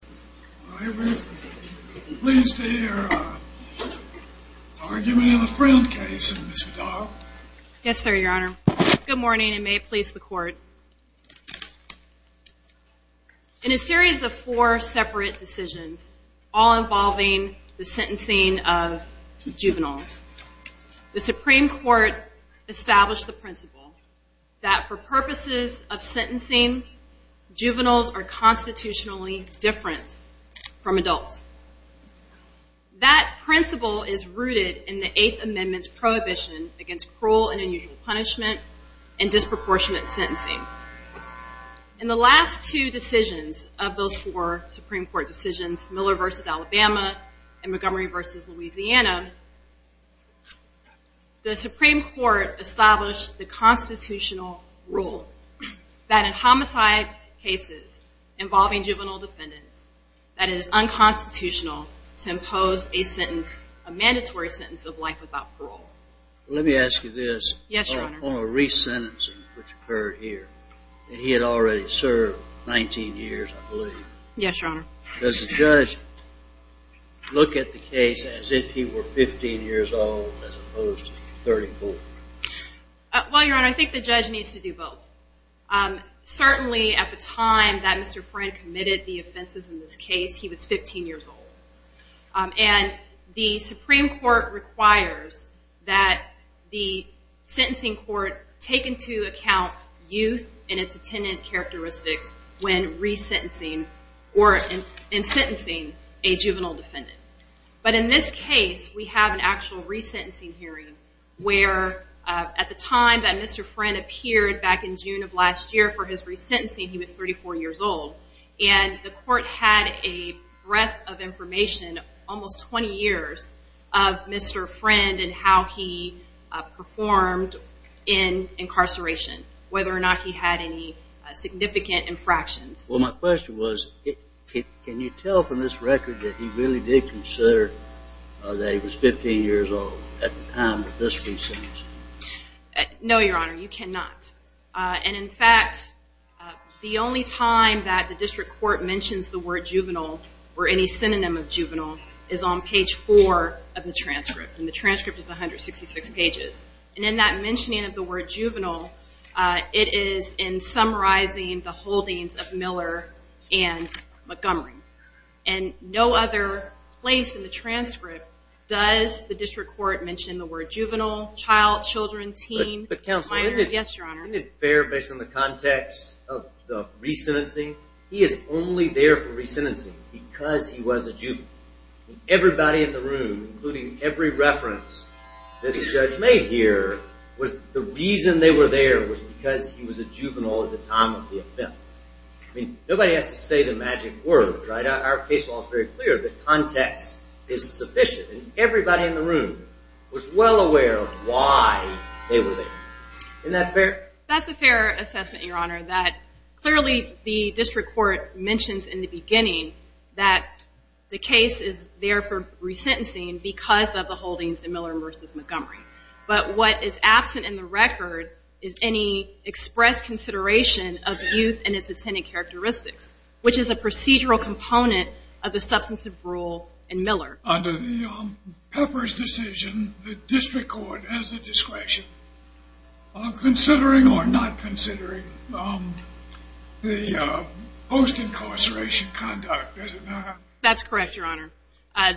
Good morning and may it please the court. In a series of four separate decisions, all involving the sentencing of juveniles, the Supreme Court established the principle that for purposes of sentencing, juveniles are constitutionally different from adults. That principle is rooted in the Eighth Amendment's prohibition against cruel and unusual punishment and disproportionate sentencing. In the last two decisions of those four Supreme Court decisions, Miller v. Alabama and Montgomery v. Louisiana, the Supreme Court established the constitutional rule that in homicide cases involving juvenile defendants, that it is unconstitutional to impose a sentence, a mandatory sentence of life without parole. Let me ask you this. Yes, Your Honor. On a re-sentencing which occurred here, he had already served 19 years, I believe. Yes, Your Honor. Does the judge look at the case as if he were 15 years old as opposed to 34? Well, Your Honor, I think the judge needs to do both. Certainly, at the time that Mr. Friend committed the offenses in this case, he was 15 years old. And the Supreme Court requires that the sentencing court take into account youth and its attendant characteristics when re-sentencing or in sentencing a juvenile defendant. But in this case, we have an actual re-sentencing hearing where at the time that Mr. Friend appeared back in June of last year for his re-sentencing, he was 34 years old. And the court had a breadth of information, almost 20 years, of Mr. Friend and how he performed in incarceration, whether or not he had any significant infractions. Well, my question was, can you tell from this record that he really did consider that he was 15 years old at the time of this re-sentencing? No, Your Honor. You cannot. And in fact, the only time that the district court mentions the word juvenile or any synonym of juvenile is on page 4 of the transcript. And the transcript is 166 pages. And in that mentioning of the buildings of Miller and Montgomery. And no other place in the transcript does the district court mention the word juvenile, child, children, teen, minor. But counsel, isn't it fair based on the context of the re-sentencing, he is only there for re-sentencing because he was a juvenile. Everybody in the room, including every reference that the judge made here, was the reason they were there was because he was a juvenile at the time of the offense. I mean, nobody has to say the magic word, right? Our case law is very clear. The context is sufficient. And everybody in the room was well aware of why they were there. Isn't that fair? That's a fair assessment, Your Honor, that clearly the district court mentions in the beginning that the case is there for re-sentencing because of the holdings in Miller v. Montgomery. But what is absent in the record is any expressed consideration of youth and its attendant characteristics, which is a procedural component of the substantive rule in Miller. Under the Pepper's decision, the district court has the discretion of considering or not considering the post-incarceration conduct, does it not? That's correct, Your Honor.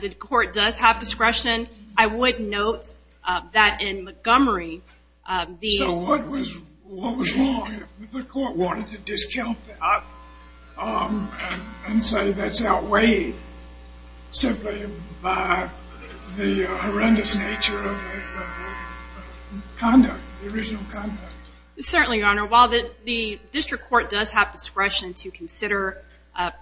The court does have discretion. I would note that in Montgomery the... So what was wrong if the court wanted to discount that and say that's outweighed simply by the horrendous nature of the conduct, the original conduct? Certainly, Your Honor. While the district court does have discretion to consider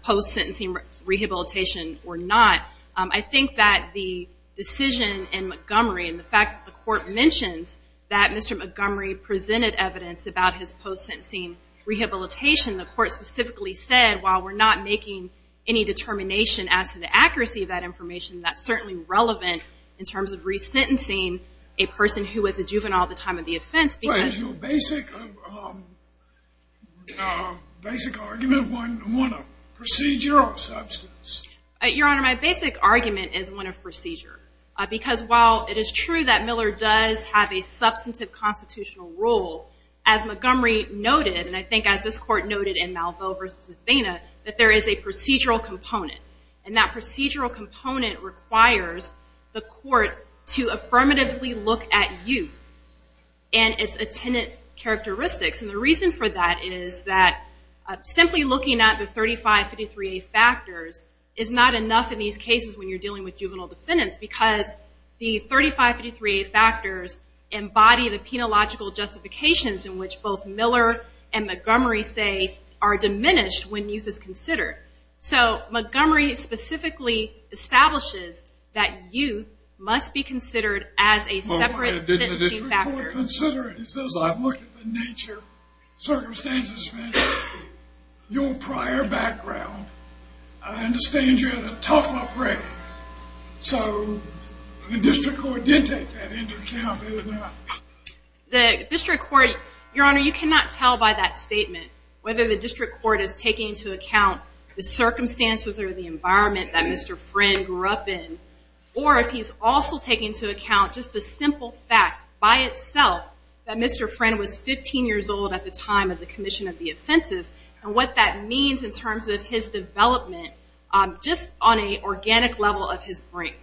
post-sentencing rehabilitation or not, I think that the decision in Montgomery and the fact that the court mentions that Mr. Montgomery presented evidence about his post-sentencing rehabilitation, the court specifically said, while we're not making any determination as to the accuracy of that information, that's certainly relevant in terms of re-sentencing a person who was a juvenile at the time of the offense because... Your Honor, my basic argument is one of procedure. Because while it is true that Miller does have a substantive constitutional rule, as Montgomery noted, and I think as this court noted in Malveaux v. Athena, that there is a procedural component. And that procedural component requires the court to affirmatively look at youth and its attendant characteristics. And the reason for that is that simply looking at the 3553A factors is not enough in these cases when you're dealing with juvenile defendants because the 3553A factors embody the penological justifications in which both Miller and Montgomery, say, are diminished when youth is considered. So Montgomery specifically establishes that youth must be considered as a separate sentencing factor. Considering, he says, I've looked at the nature, circumstances, your prior background, I understand you had a tough upbringing. So the district court did take that into account, did it not? The district court, Your Honor, you cannot tell by that statement whether the district court is taking into account the circumstances or the environment that Mr. Friend grew up in or if he's also taking into account just the simple fact by itself that Mr. Friend was 15 years old at the time of the commission of the offenses and what that means in terms of his development just on an organic level of his brain.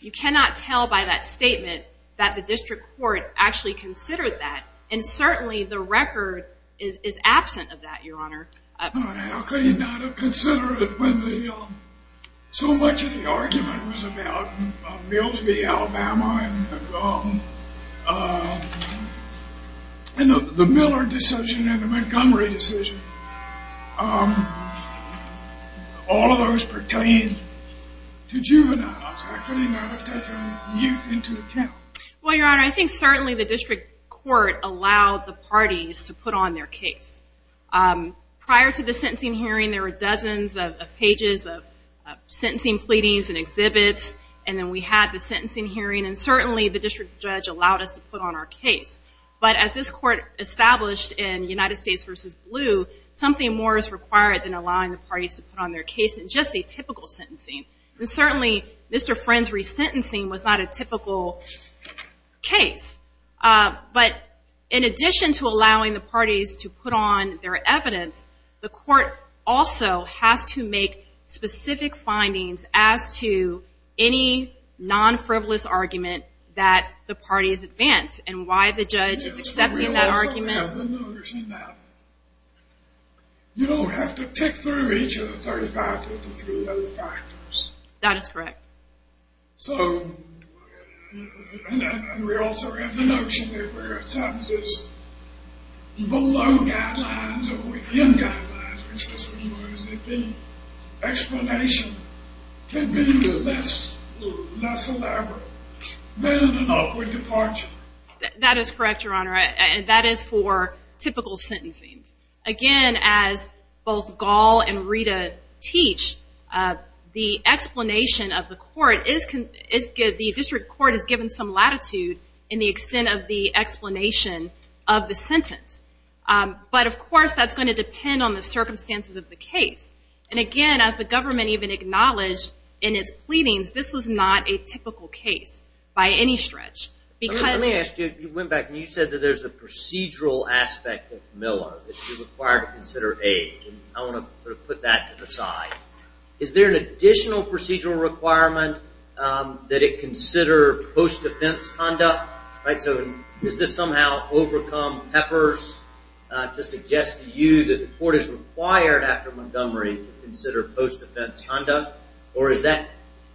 You cannot tell by that statement that the district court actually considered that. And certainly the record is absent of that, Your Honor. How could he not have considered it when so much of the argument was about Mills v. Alabama and the Miller decision and the Montgomery decision? All of those pertain to juveniles. How could he not have taken youth into account? Well, Your Honor, I think certainly the district court allowed the parties to put on their case. Prior to the sentencing hearing, there were dozens of pages of sentencing pleadings and exhibits and then we had the sentencing hearing and certainly the district judge allowed us to put on our case. But as this court established in United States v. Blue, something more is required than allowing the parties to put on their case in just a typical sentencing. And certainly Mr. Friend's resentencing was not a typical case. But in addition to allowing the parties to put on their evidence, the court also has to make specific findings as to any non-frivolous argument that the parties advance and why the judge is accepting that argument. We also have the notion that you don't have to tick through each of the 35-53 other factors. That is correct. So we also have the notion that sentences below guidelines or within guidelines, which is what you want to say, the explanation can be less elaborate than an awkward departure. That is correct, Your Honor. And that is for typical sentencing. Again, as both Gall and the district court has given some latitude in the extent of the explanation of the sentence. But of course, that is going to depend on the circumstances of the case. And again, as the government even acknowledged in its pleadings, this was not a typical case by any stretch. Let me ask you, you went back and you said that there is a procedural aspect of Miller that is required to consider A. I want to put that to the side. Is there an additional procedural requirement that it consider post-defense conduct? Is this somehow overcome Peppers to suggest to you that the court is required after Montgomery to consider post-defense conduct? Or is that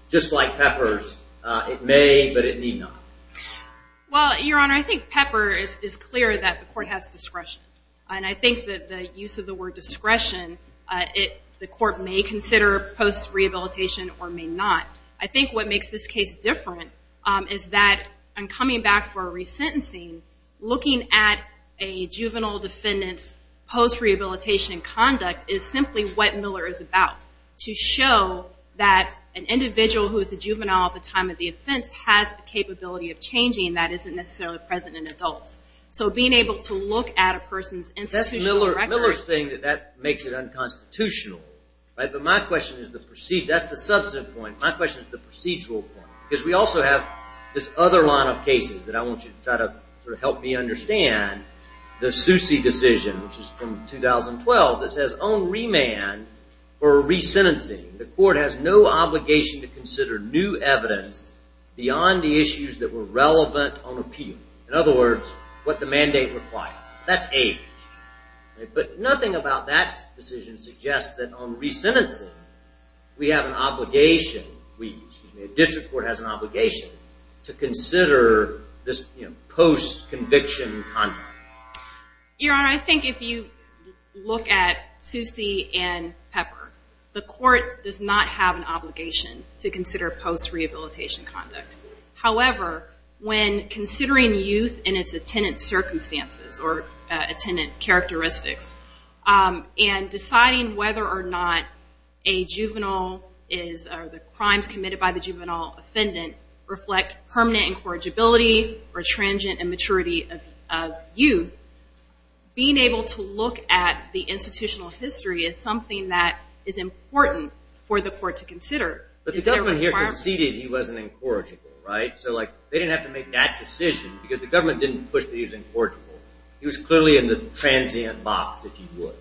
just like Peppers, it may but it need not? Well, Your Honor, I think Peppers is clear that the court has discretion. And I think that the use of the word discretion, the court may consider post-rehabilitation or may not. I think what makes this case different is that in coming back for a resentencing, looking at a juvenile defendant's post-rehabilitation conduct is simply what Miller is about. To show that an individual who is a juvenile at the time of the offense has the capability of changing that isn't necessarily present in adults. So being able to look at a person's Miller is saying that that makes it unconstitutional. But my question is the procedural point. Because we also have this other line of cases that I want you to try to help me understand. The Sucy decision, which is from 2012, this has own remand for resentencing. The court has no obligation to consider new evidence beyond the issues that were relevant on appeal. In other words, what the mandate required. That's A. But nothing about that decision suggests that on resentencing, we have an obligation, the district court has an obligation to consider this post-conviction conduct. Your Honor, I think if you look at Sucy and Pepper, the court does not have an obligation to consider post-rehabilitation conduct. However, when considering youth in its attendant circumstances or attendant characteristics, and deciding whether or not a juvenile is or the crimes committed by the juvenile defendant reflect permanent incorrigibility or transient immaturity of youth, being able to look at the institutional history is something that for the court to consider. But the government here conceded he wasn't incorrigible, right? So like they didn't have to make that decision because the government didn't push that he was incorrigible. He was clearly in the transient box if he would.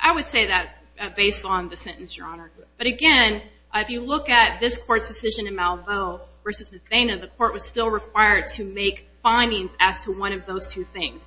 I would say that based on the sentence, Your Honor. But again, if you look at this court's decision in Malveaux v. Medina, the court was still required to make findings as to one of those two things.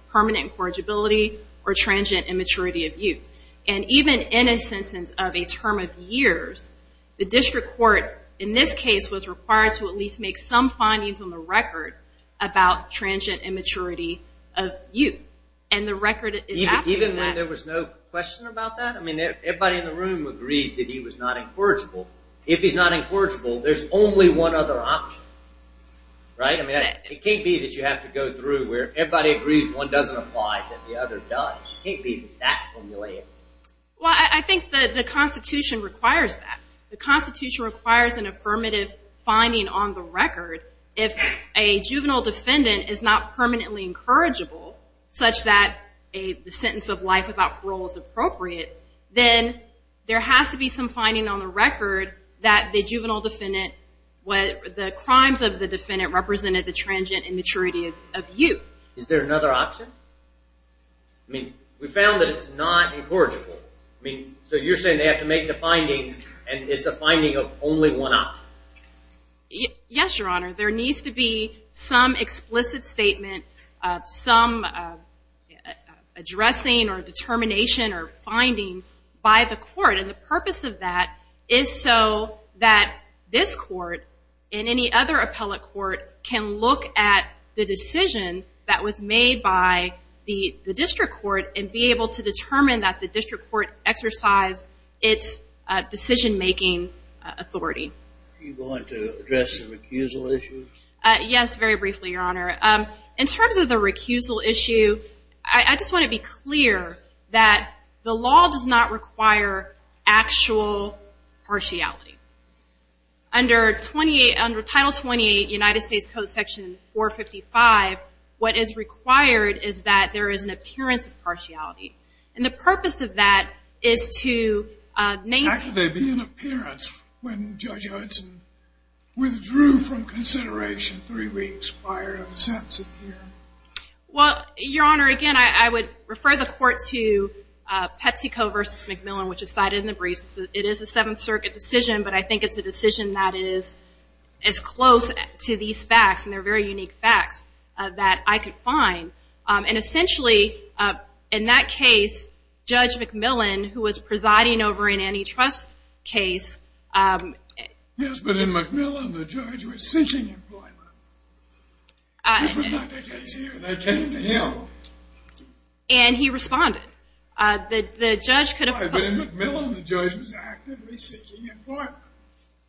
And even in a sentence of a term of years, the district court in this case was required to at least make some findings on the record about transient immaturity of youth. And the record is absolutely that. Even when there was no question about that? I mean, everybody in the room agreed that he was not incorrigible. If he's not incorrigible, there's only one other option, right? I mean, it can't be that you have to go through where everybody agrees one doesn't apply, that the other does. It can't be that formulated. Well, I think that the Constitution requires that. The Constitution requires an affirmative finding on the record. If a juvenile defendant is not permanently incorrigible, such that a sentence of life without parole is appropriate, then there has to be some finding on the record that the juvenile defendant what the crimes of the defendant represented the transient immaturity of youth. Is there another option? I mean, we found that it's not incorrigible. I mean, so you're saying they have to make the finding and it's a finding of only one option? Yes, Your Honor. There needs to be some explicit statement, some addressing or determination or finding by the court. And the purpose of that is so that this court and any other appellate court can look at the decision that was made by the district court and be able to determine that the district court exercised its decision-making authority. Are you going to address the recusal issue? Yes, very briefly, Your Honor. In terms of the recusal issue, I just want to be clear that the law does not require actual partiality. Under Title 28, United States Code, Section 455, what is required is that there is an appearance of partiality. And the purpose of that is to maintain How could there be an appearance when Judge Hudson withdrew from consideration three weeks prior to the sentencing hearing? Well, Your Honor, again, I would refer the court to PepsiCo v. McMillan, which is cited in the briefs. It is a Seventh Circuit decision, but I think it's a decision that is as close to these facts, and they're very unique facts, that I could find. And essentially, in that case, Judge McMillan, who was presiding over an antitrust case Yes, but in McMillan, the judge was seeking employment. This was not the case here. They came to him. And he responded. But in McMillan, the judge was actively seeking employment.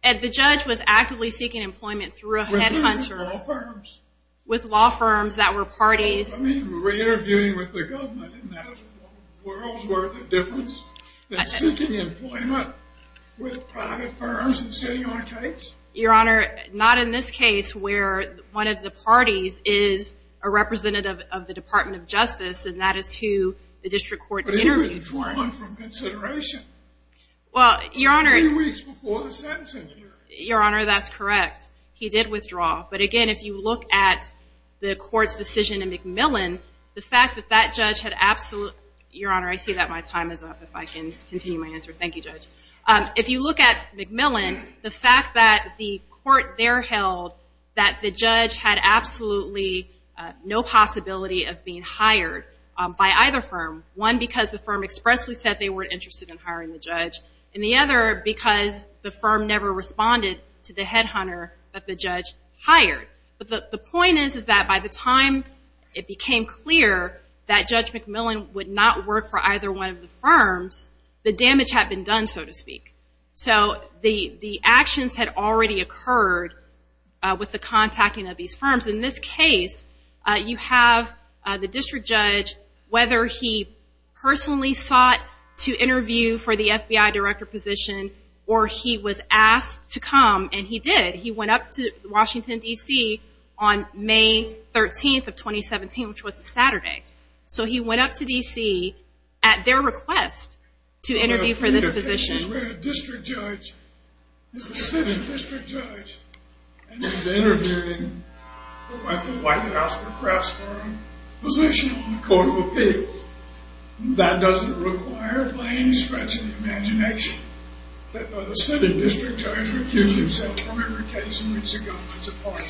The judge was actively seeking employment through a headhunter With law firms. With law firms that were parties. I mean, we were interviewing with the government, and that was a world's worth of difference. than seeking employment with private firms and sitting on a case? Your Honor, not in this case, where one of the parties is a representative of the Department of Justice, and that is who the district court interviewed. But he withdrew from consideration three weeks before the sentencing hearing. Your Honor, that's correct. He did withdraw. But again, if you look at the court's decision in McMillan, the fact that that judge had absolutely Your Honor, I see that my time is up. If I can continue my answer. Thank you, Judge. If you look at McMillan, the fact that the court there held that the judge had absolutely no possibility of being hired by either firm. One, because the firm expressly said they weren't interested in hiring the judge. And the other, because the firm never responded to the headhunter that the judge hired. But the point is that by the time it became clear that Judge McMillan would not work for either one of the firms, the damage had been done, so to speak. So the actions had already occurred with the contacting of these firms. In this case, you have the district judge, whether he personally sought to interview for the FBI director position, or he was asked to come, and he did. He went up to Washington, D.C. on May 13th of 2017, which was a Saturday. So he went up to D.C. at their request to interview for this position. A district judge is a city district judge, and he's interviewing, I think, for a position on the Court of Appeals. That doesn't require, by any stretch of the imagination, that a city district judge would accuse himself from every case in which he governs a party.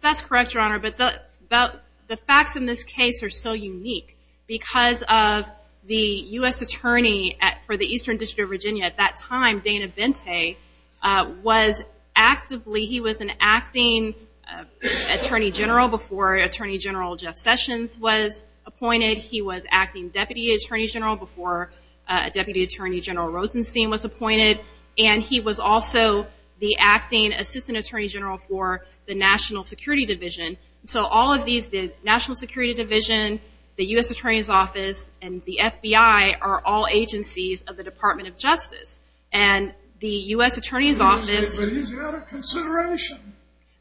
That's correct, Your Honor. But the facts in this case are still unique. Because of the U.S. attorney for the Eastern District of Virginia at that time, Dana Vente, was actively, he was an acting attorney general before Attorney General Jeff Sessions was appointed. He was acting deputy attorney general before Deputy Attorney General Rosenstein was appointed. And he was also the acting assistant attorney general for the National Security Division. So all of these, the National Security Division, the U.S. Attorney's Office, and the FBI, are all agencies of the Department of Justice. And the U.S. Attorney's Office... But he's out of consideration.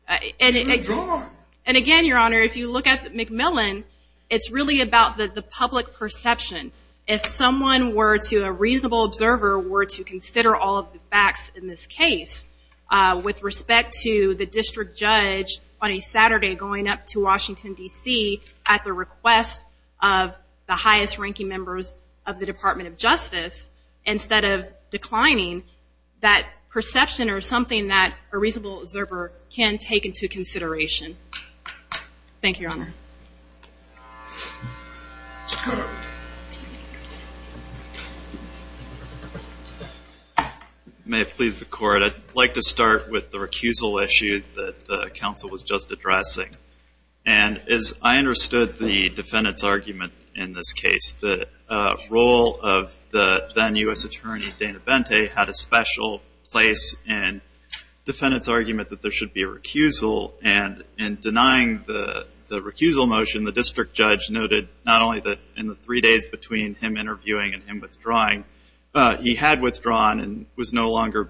And again, Your Honor, if you look at McMillan, it's really about the public perception. If someone were to, a reasonable observer, were to consider all of the facts in this case, with respect to the district judge on a Saturday going up to Washington, D.C., at the request of the highest-ranking members of the Department of Justice, instead of declining, that perception or something that a reasonable observer can take into consideration. Thank you, Your Honor. May it please the Court. I'd like to start with the recusal issue that the counsel was just addressing. And as I understood the defendant's argument in this case, the role of the then U.S. Attorney Dana Bente had a special place in the defendant's argument that there should be a recusal. And in denying the recusal motion, the district judge noted not only that in the three days between him interviewing and him withdrawing, he had withdrawn and was no longer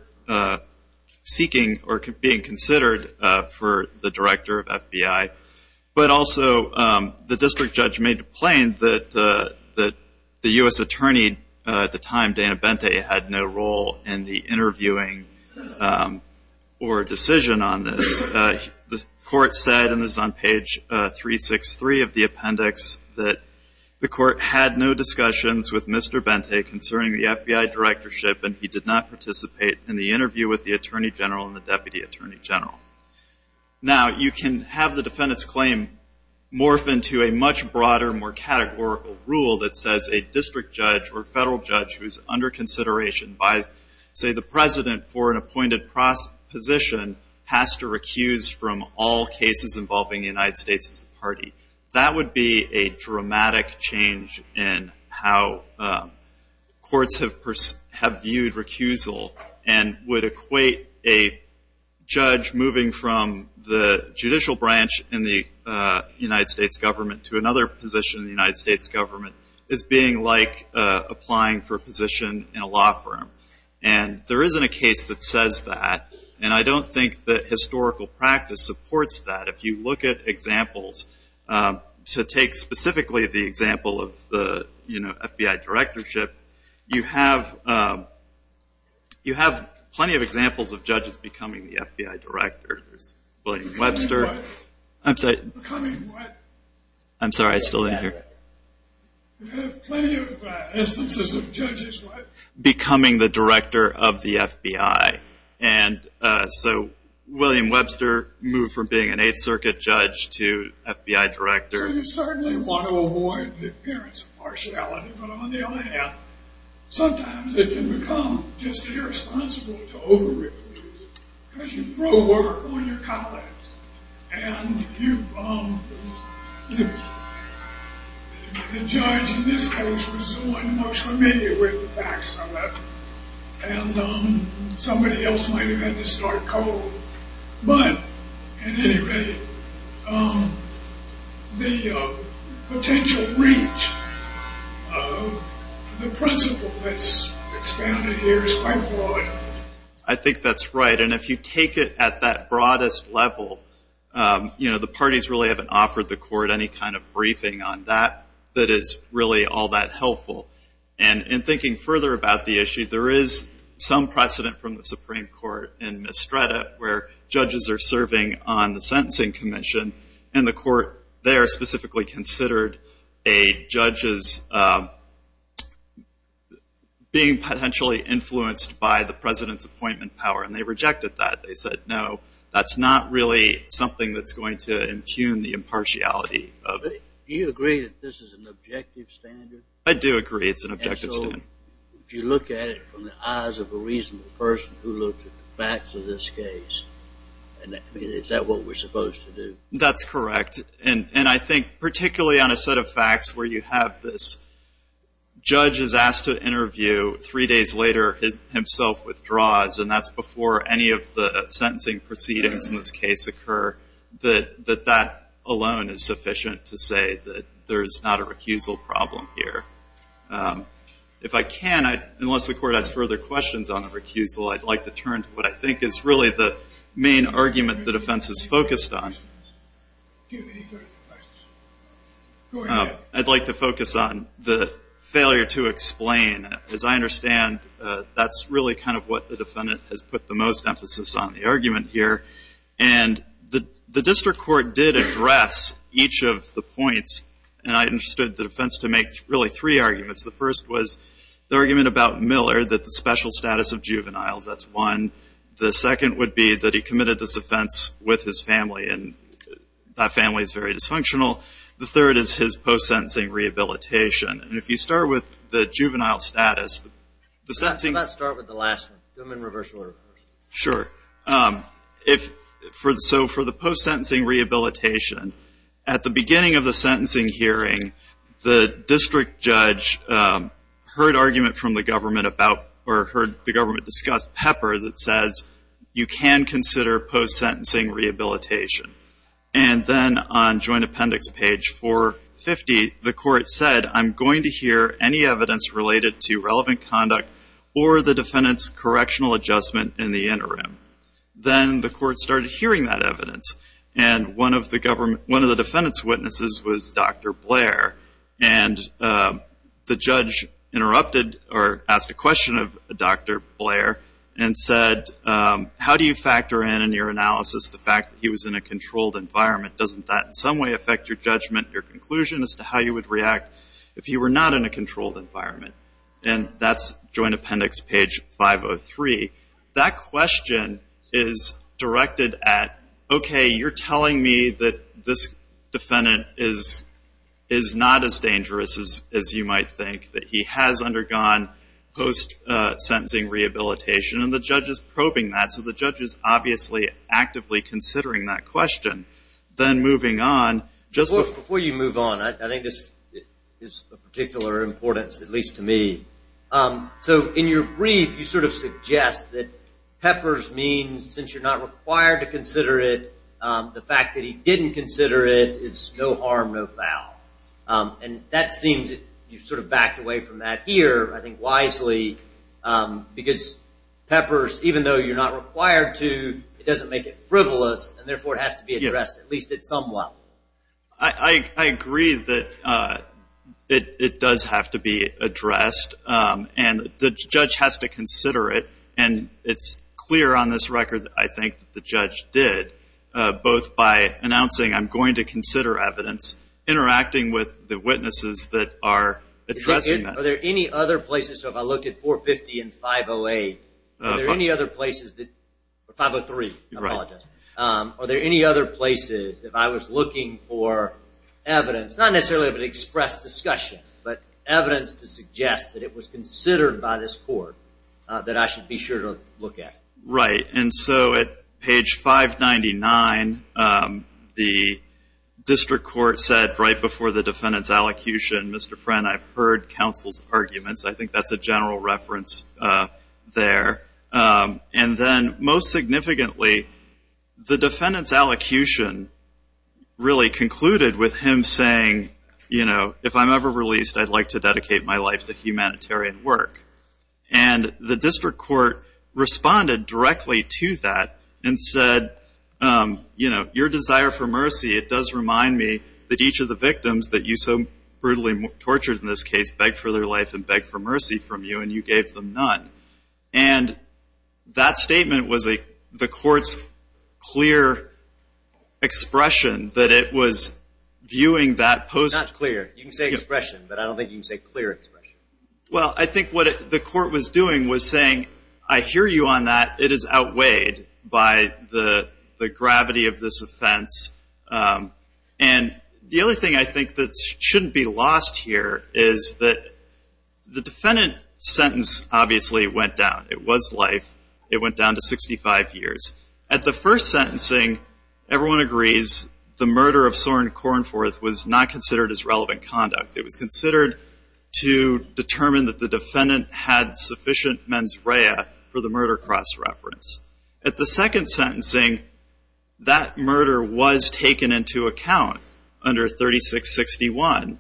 seeking or being considered for the director of FBI, but also the district judge made it plain that the U.S. Attorney at the time, Dana Bente, had no role in the interviewing or decision on this. The Court said, and this is on page 363 of the appendix, that the Court had no discussions with Mr. Bente concerning the FBI directorship and he did not participate in the interview with the Attorney General and the Deputy Attorney General. Now, you can have the defendant's claim morph into a much broader, more categorical rule that says a district judge or federal judge who is under consideration by, say, the president for an appointed position has to recuse from all cases involving the United States Party. That would be a dramatic change in how courts have viewed recusal and would equate a judge moving from the judicial branch in the United States government to another position in the United States government as being like applying for a position in a law firm. And there isn't a case that says that, and I don't think that historical practice supports that. If you look at examples, to take specifically the example of the FBI directorship, you have plenty of examples of judges becoming the FBI director. There's William Webster. Becoming what? I'm sorry. Becoming what? I'm sorry, I still didn't hear. You have plenty of instances of judges what? Becoming the director of the FBI. And so William Webster moved from being an Eighth Circuit judge to FBI director. So you certainly want to avoid the appearance of partiality, but on the other hand, sometimes it can become just irresponsible to over-recuse because you throw work on your colleagues. And you, the judge in this case was so much familiar with the facts of it, and somebody else might have had to start cold. But, at any rate, the potential reach of the principle that's expanded here is quite broad. I think that's right. And if you take it at that broadest level, you know, the parties really haven't offered the court any kind of briefing on that that is really all that helpful. And in thinking further about the issue, there is some precedent from the Supreme Court in Mistretta where judges are serving on the Sentencing Commission, and the court there specifically considered a judge's being potentially influenced by the president's appointment power. And they rejected that. They said, no, that's not really something that's going to impugn the impartiality. Do you agree that this is an objective standard? I do agree it's an objective standard. And so if you look at it from the eyes of a reasonable person who looks at the facts of this case, is that what we're supposed to do? That's correct. And I think particularly on a set of facts where you have this judge is asked to interview, three days later himself withdraws, and that's before any of the sentencing proceedings in this case occur, that that alone is sufficient to say that there's not a recusal problem here. If I can, unless the court has further questions on the recusal, I'd like to turn to what I think is really the main argument the defense is focused on. I'd like to focus on the failure to explain. As I understand, that's really kind of what the defendant has put the most emphasis on, the argument here. And the district court did address each of the points, and I understood the defense to make really three arguments. The first was the argument about Miller, that the special status of juveniles, that's one. The second would be that he committed this offense with his family, and that family is very dysfunctional. The third is his post-sentencing rehabilitation. And if you start with the juvenile status, the sentencing – Let's start with the last one, human reversal. Sure. So for the post-sentencing rehabilitation, at the beginning of the sentencing hearing, the district judge heard argument from the government about – or heard the government discuss Pepper that says you can consider post-sentencing rehabilitation. And then on joint appendix page 450, the court said, I'm going to hear any evidence related to relevant conduct or the defendant's correctional adjustment in the interim. Then the court started hearing that evidence, and one of the defendant's witnesses was Dr. Blair. And the judge interrupted or asked a question of Dr. Blair and said, How do you factor in, in your analysis, the fact that he was in a controlled environment? Doesn't that in some way affect your judgment, your conclusion as to how you would react if you were not in a controlled environment? And that's joint appendix page 503. That question is directed at, okay, you're telling me that this defendant is not as dangerous as you might think, that he has undergone post-sentencing rehabilitation. And the judge is probing that, so the judge is obviously actively considering that question. Then moving on, just – Before you move on, I think this is of particular importance, at least to me. So in your brief, you sort of suggest that Pepper's means, since you're not required to consider it, the fact that he didn't consider it is no harm, no foul. And that seems – you sort of backed away from that here, I think wisely, because Pepper's, even though you're not required to, it doesn't make it frivolous, and therefore it has to be addressed, at least somewhat. I agree that it does have to be addressed, and the judge has to consider it. And it's clear on this record, I think, that the judge did, both by announcing, I'm going to consider evidence, interacting with the witnesses that are addressing that. Are there any other places – so if I look at 450 and 508, are there any other places that – or 503, I apologize. Are there any other places, if I was looking for evidence, not necessarily of an expressed discussion, but evidence to suggest that it was considered by this court that I should be sure to look at? Right. And so at page 599, the district court said right before the defendant's allocution, Mr. Friend, I've heard counsel's arguments. I think that's a general reference there. And then most significantly, the defendant's allocution really concluded with him saying, you know, if I'm ever released, I'd like to dedicate my life to humanitarian work. And the district court responded directly to that and said, you know, your desire for mercy, it does remind me that each of the victims that you so brutally tortured in this case begged for their life and begged for mercy from you, and you gave them none. And that statement was the court's clear expression that it was viewing that post. It's not clear. You can say expression, but I don't think you can say clear expression. Well, I think what the court was doing was saying, I hear you on that. It is outweighed by the gravity of this offense. And the other thing I think that shouldn't be lost here is that the defendant's sentence obviously went down. It was life. It went down to 65 years. At the first sentencing, everyone agrees the murder of Soren Kornforth was not considered as relevant conduct. It was considered to determine that the defendant had sufficient mens rea for the murder cross-reference. At the second sentencing, that murder was taken into account under 3661.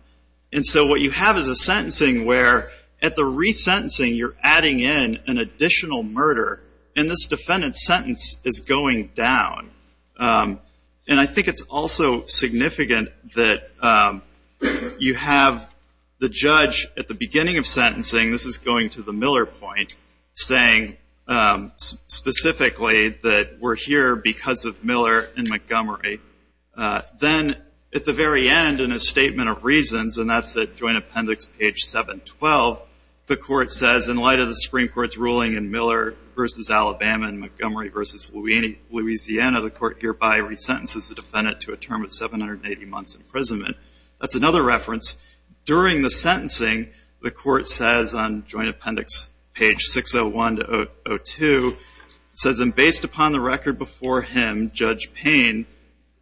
And so what you have is a sentencing where at the resentencing you're adding in an additional murder, and this defendant's sentence is going down. And I think it's also significant that you have the judge at the beginning of sentencing, this is going to the Miller point, saying specifically that we're here because of Miller and Montgomery. Then at the very end in a statement of reasons, and that's at Joint Appendix page 712, the court says in light of the Supreme Court's ruling in Miller v. Alabama and Montgomery v. Louisiana, the court hereby resentences the defendant to a term of 780 months imprisonment. That's another reference. During the sentencing, the court says on Joint Appendix page 601 to 602, it says, and based upon the record before him, Judge Payne,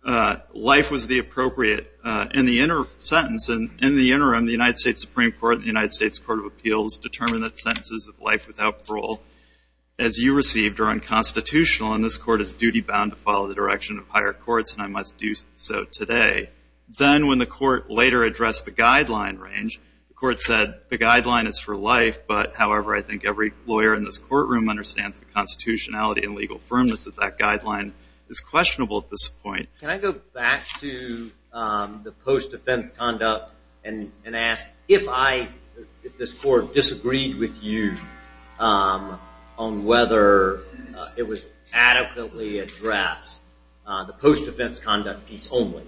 life was the appropriate. In the interim sentence, in the interim, the United States Supreme Court and the United States Court of Appeals determine that sentences of life without parole as you received are unconstitutional, and this court is duty-bound to follow the direction of higher courts, and I must do so today. Then when the court later addressed the guideline range, the court said the guideline is for life, but however I think every lawyer in this courtroom understands the constitutionality and legal firmness of that guideline is questionable at this point. Can I go back to the post-defense conduct and ask if this court disagreed with you on whether it was adequately addressed, the post-defense conduct piece only.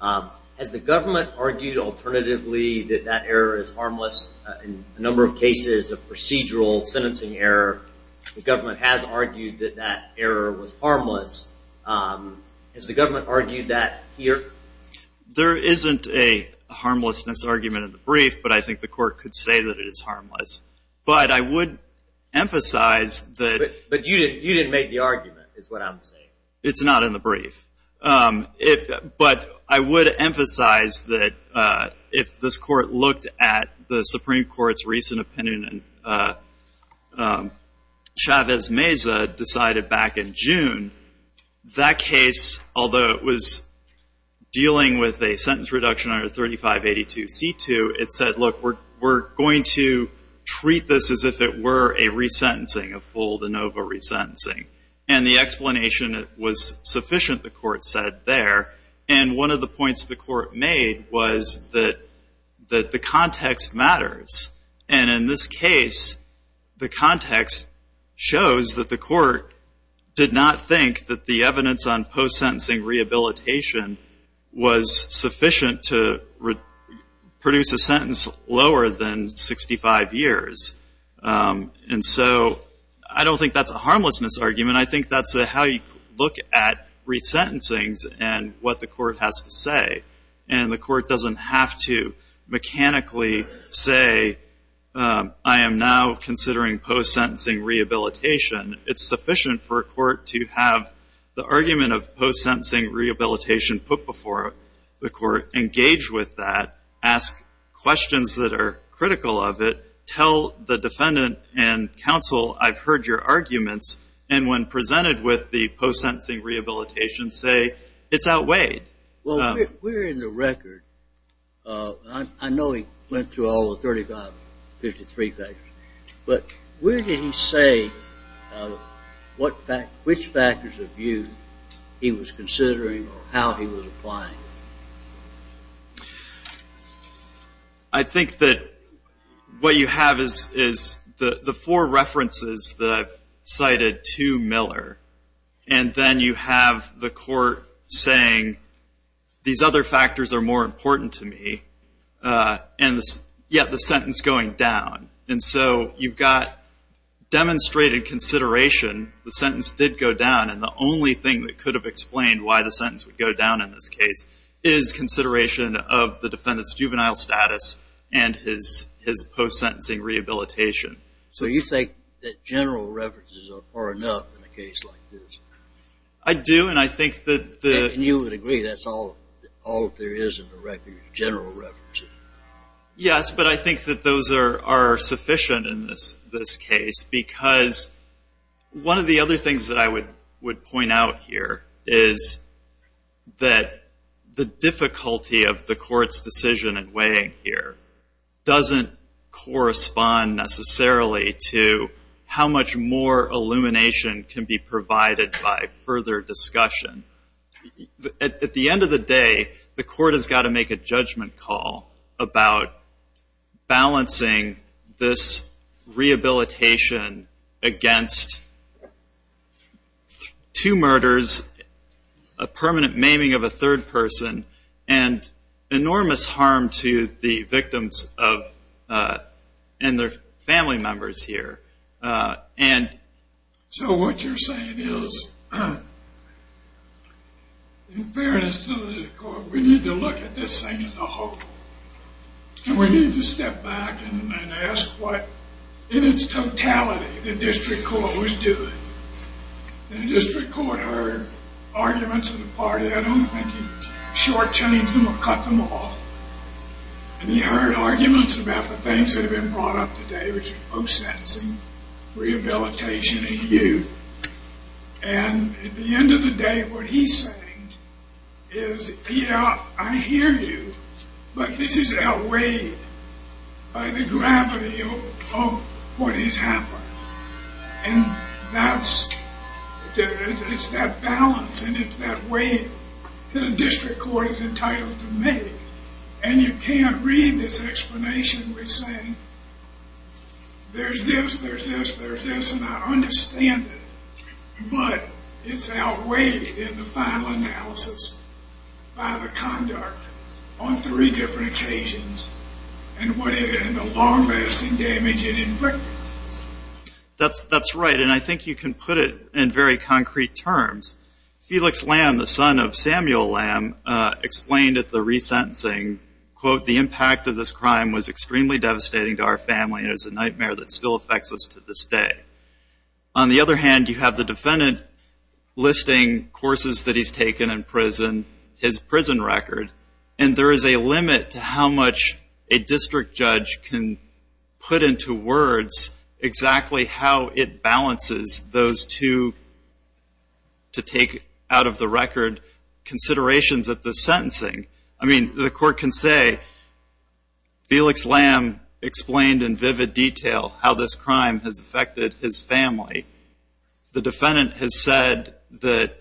Has the government argued alternatively that that error is harmless? In a number of cases of procedural sentencing error, the government has argued that that error was harmless. Has the government argued that here? There isn't a harmlessness argument in the brief, but I think the court could say that it is harmless. But I would emphasize that. But you didn't make the argument is what I'm saying. It's not in the brief, but I would emphasize that if this court looked at the Supreme Court's recent opinion and Chavez-Meza decided back in June, that case, although it was dealing with a sentence reduction under 3582C2, it said, look, we're going to treat this as if it were a resentencing, a full de novo resentencing. And the explanation was sufficient, the court said there. And one of the points the court made was that the context matters. And in this case, the context shows that the court did not think that the evidence on post-sentencing rehabilitation was sufficient to produce a sentence lower than 65 years. And so I don't think that's a harmlessness argument. I think that's how you look at resentencings and what the court has to say. And the court doesn't have to mechanically say, I am now considering post-sentencing rehabilitation. It's sufficient for a court to have the argument of post-sentencing rehabilitation put before the court, engage with that, ask questions that are critical of it, tell the defendant and counsel, I've heard your arguments, and when presented with the post-sentencing rehabilitation, say it's outweighed. Well, we're in the record. I know he went through all the 35, 53 factors. But where did he say which factors of view he was considering or how he was applying? I think that what you have is the four references that I've cited to Miller, and then you have the court saying these other factors are more important to me, and yet the sentence going down. And so you've got demonstrated consideration, the sentence did go down, and the only thing that could have explained why the sentence would go down in this case is consideration of the defendant's juvenile status and his post-sentencing rehabilitation. So you think that general references are far enough in a case like this? I do, and I think that the... And you would agree that's all there is in the record, general references. Yes, but I think that those are sufficient in this case, because one of the other things that I would point out here is that the difficulty of the court's decision in weighing here doesn't correspond necessarily to how much more illumination can be provided by further discussion. At the end of the day, the court has got to make a judgment call about balancing this rehabilitation against two murders, a permanent maiming of a third person, and enormous harm to the victims and their family members here. So what you're saying is, in fairness to the court, we need to look at this thing as a whole, and we need to step back and ask what, in its totality, the district court was doing. The district court heard arguments of the party. I don't think he shortchanged them or cut them off. And he heard arguments about the things that have been brought up today, which are post-sentencing, rehabilitation, and youth. And at the end of the day, what he's saying is, yeah, I hear you, but this is outweighed by the gravity of what has happened. And it's that balance, and it's that weight that a district court is entitled to make. And you can't read this explanation with saying, there's this, there's this, there's this, and I understand it, but it's outweighed in the final analysis by the conduct on three different occasions, and the long-lasting damage it inflicted. That's right, and I think you can put it in very concrete terms. Felix Lamb, the son of Samuel Lamb, explained at the resentencing, quote, the impact of this crime was extremely devastating to our family, and it's a nightmare that still affects us to this day. On the other hand, you have the defendant listing courses that he's taken in prison, his prison record, and there is a limit to how much a district judge can put into words exactly how it balances those two, to take out of the record, considerations of the sentencing. I mean, the court can say, Felix Lamb explained in vivid detail how this crime has affected his family. The defendant has said that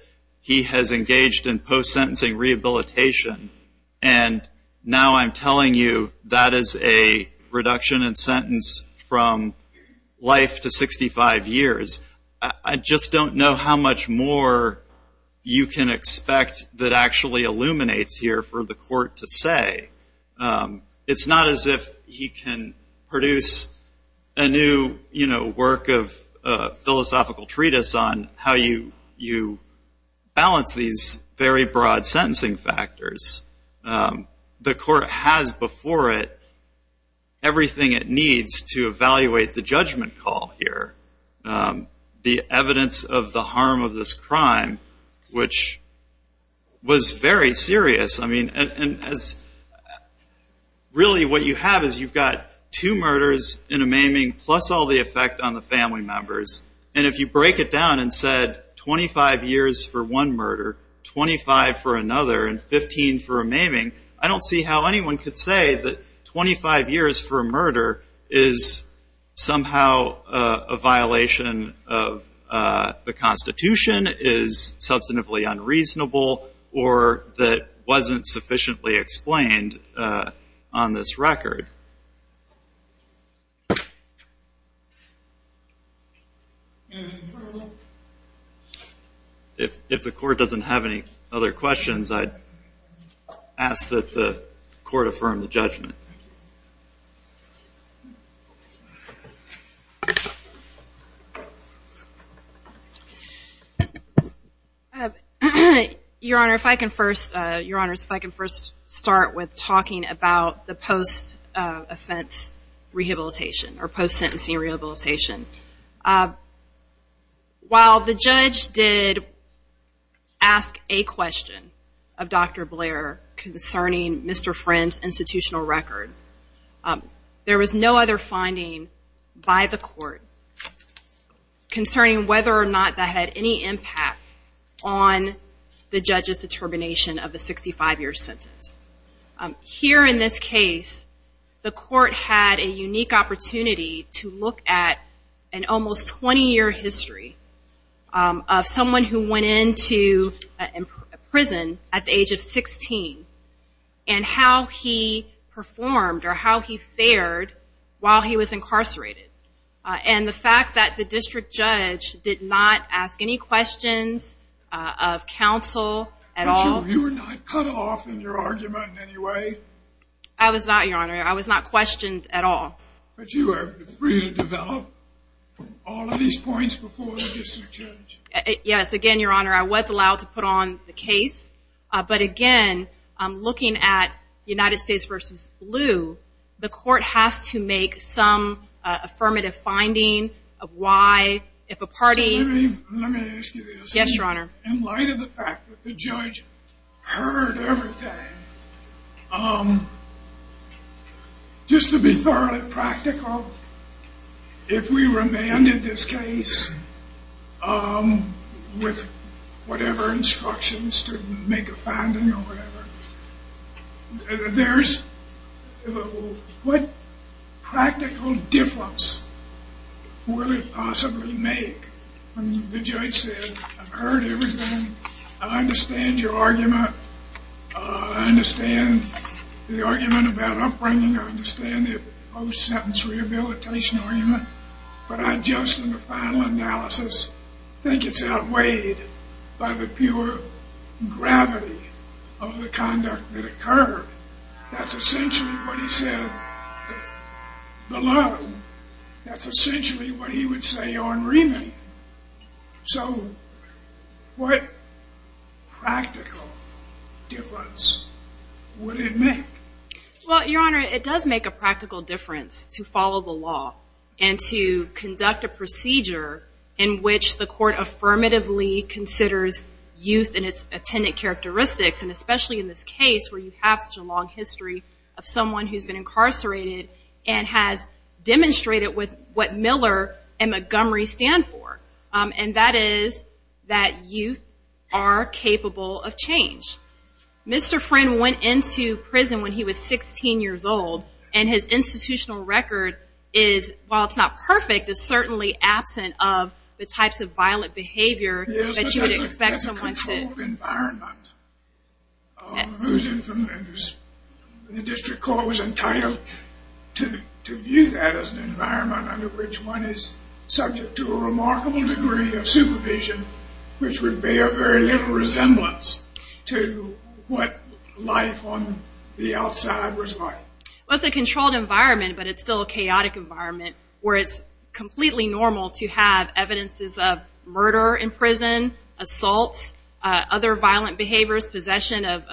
he has engaged in post-sentencing rehabilitation, and now I'm telling you that is a reduction in sentence from life to 65 years. I just don't know how much more you can expect that actually illuminates here for the court to say. It's not as if he can produce a new work of philosophical treatise on how you balance these very broad sentencing factors. The court has before it everything it needs to evaluate the judgment call here, the evidence of the harm of this crime, which was very serious. I mean, really what you have is you've got two murders in a maiming plus all the effect on the family members, and if you break it down and said 25 years for one murder, 25 for another, and 15 for a maiming, I don't see how anyone could say that 25 years for a murder is somehow a violation of the Constitution, is substantively unreasonable, or that wasn't sufficiently explained on this record. Anything further? If the court doesn't have any other questions, I'd ask that the court affirm the judgment. Your Honor, if I can first start with talking about the post-offense rehabilitation or post-sentencing rehabilitation. While the judge did ask a question of Dr. Blair concerning Mr. Friend's institutional record, there was no other finding by the court concerning whether or not that had any impact on the judge's determination of a 65-year sentence. Here in this case, the court had a unique opportunity to look at an almost 20-year history of someone who went into prison at the age of 16 and how he performed or how he fared while he was incarcerated, and the fact that the district judge did not ask any questions of counsel at all. You were not cut off in your argument in any way? I was not, Your Honor. I was not questioned at all. But you were free to develop all of these points before the district judge? Yes, again, Your Honor, I was allowed to put on the case, but again, looking at United States v. Blue, the court has to make some affirmative finding of why, if a party... Let me ask you this. Yes, Your Honor. In light of the fact that the judge heard everything, just to be thoroughly practical, if we remanded this case with whatever instructions to make a finding or whatever, what practical difference would it possibly make when the judge said, I heard everything, I understand your argument, I understand the argument about upbringing, I understand the post-sentence rehabilitation argument, but I just, in the final analysis, think it's outweighed by the pure gravity of the conduct that occurred. That's essentially what he said below. That's essentially what he would say on remand. So what practical difference would it make? Well, Your Honor, it does make a practical difference to follow the law and to conduct a procedure in which the court affirmatively considers youth and its attendant characteristics, and especially in this case where you have such a long history of someone who's been incarcerated and has demonstrated what Miller and Montgomery stand for, and that is that youth are capable of change. Mr. Friend went into prison when he was 16 years old, and his institutional record is, while it's not perfect, is certainly absent of the types of violent behavior that you would expect someone to... Yes, but that's a controlled environment. The district court was entitled to view that as an environment under which one is subject to a remarkable degree of supervision, which would bear very little resemblance to what life on the outside was like. Well, it's a controlled environment, but it's still a chaotic environment where it's completely normal to have evidences of murder in prison, assaults, other violent behaviors, possession of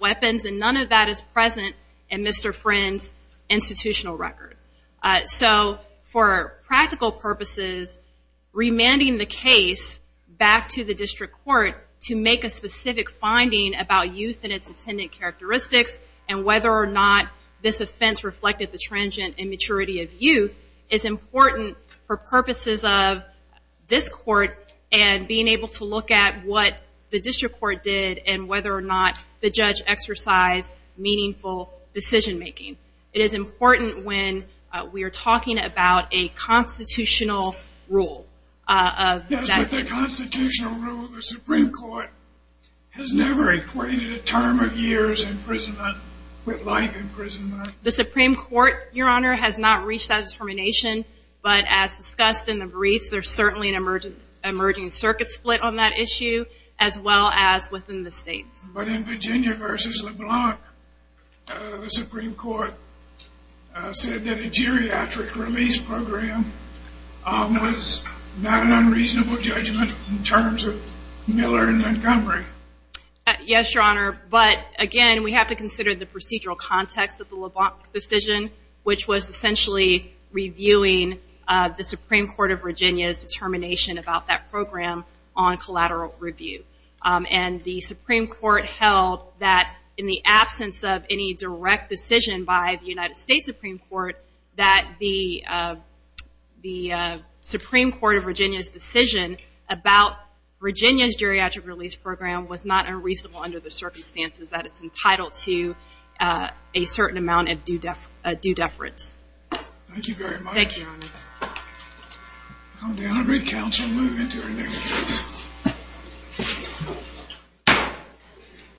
weapons, and none of that is present in Mr. Friend's institutional record. So for practical purposes, remanding the case back to the district court to make a specific finding about youth and its attendant characteristics and whether or not this offense reflected the transient immaturity of youth is important for purposes of this court and being able to look at what the district court did and whether or not the judge exercised meaningful decision-making. It is important when we are talking about a constitutional rule. Yes, but the constitutional rule of the Supreme Court has never equated a term of years in prison with life in prison. The Supreme Court, Your Honor, has not reached that determination, but as discussed in the briefs, there's certainly an emerging circuit split on that issue, as well as within the states. But in Virginia v. LeBlanc, the Supreme Court said that a geriatric release program was not an unreasonable judgment in terms of Miller and Montgomery. Yes, Your Honor, but again, we have to consider the procedural context of the LeBlanc decision, which was essentially reviewing the Supreme Court of Virginia's determination about that program on collateral review. And the Supreme Court held that in the absence of any direct decision by the United States Supreme Court that the Supreme Court of Virginia's decision about Virginia's geriatric release program was not unreasonable under the circumstances that it's entitled to a certain amount of due deference. Thank you, Your Honor. Come down, recount, and move into your next place.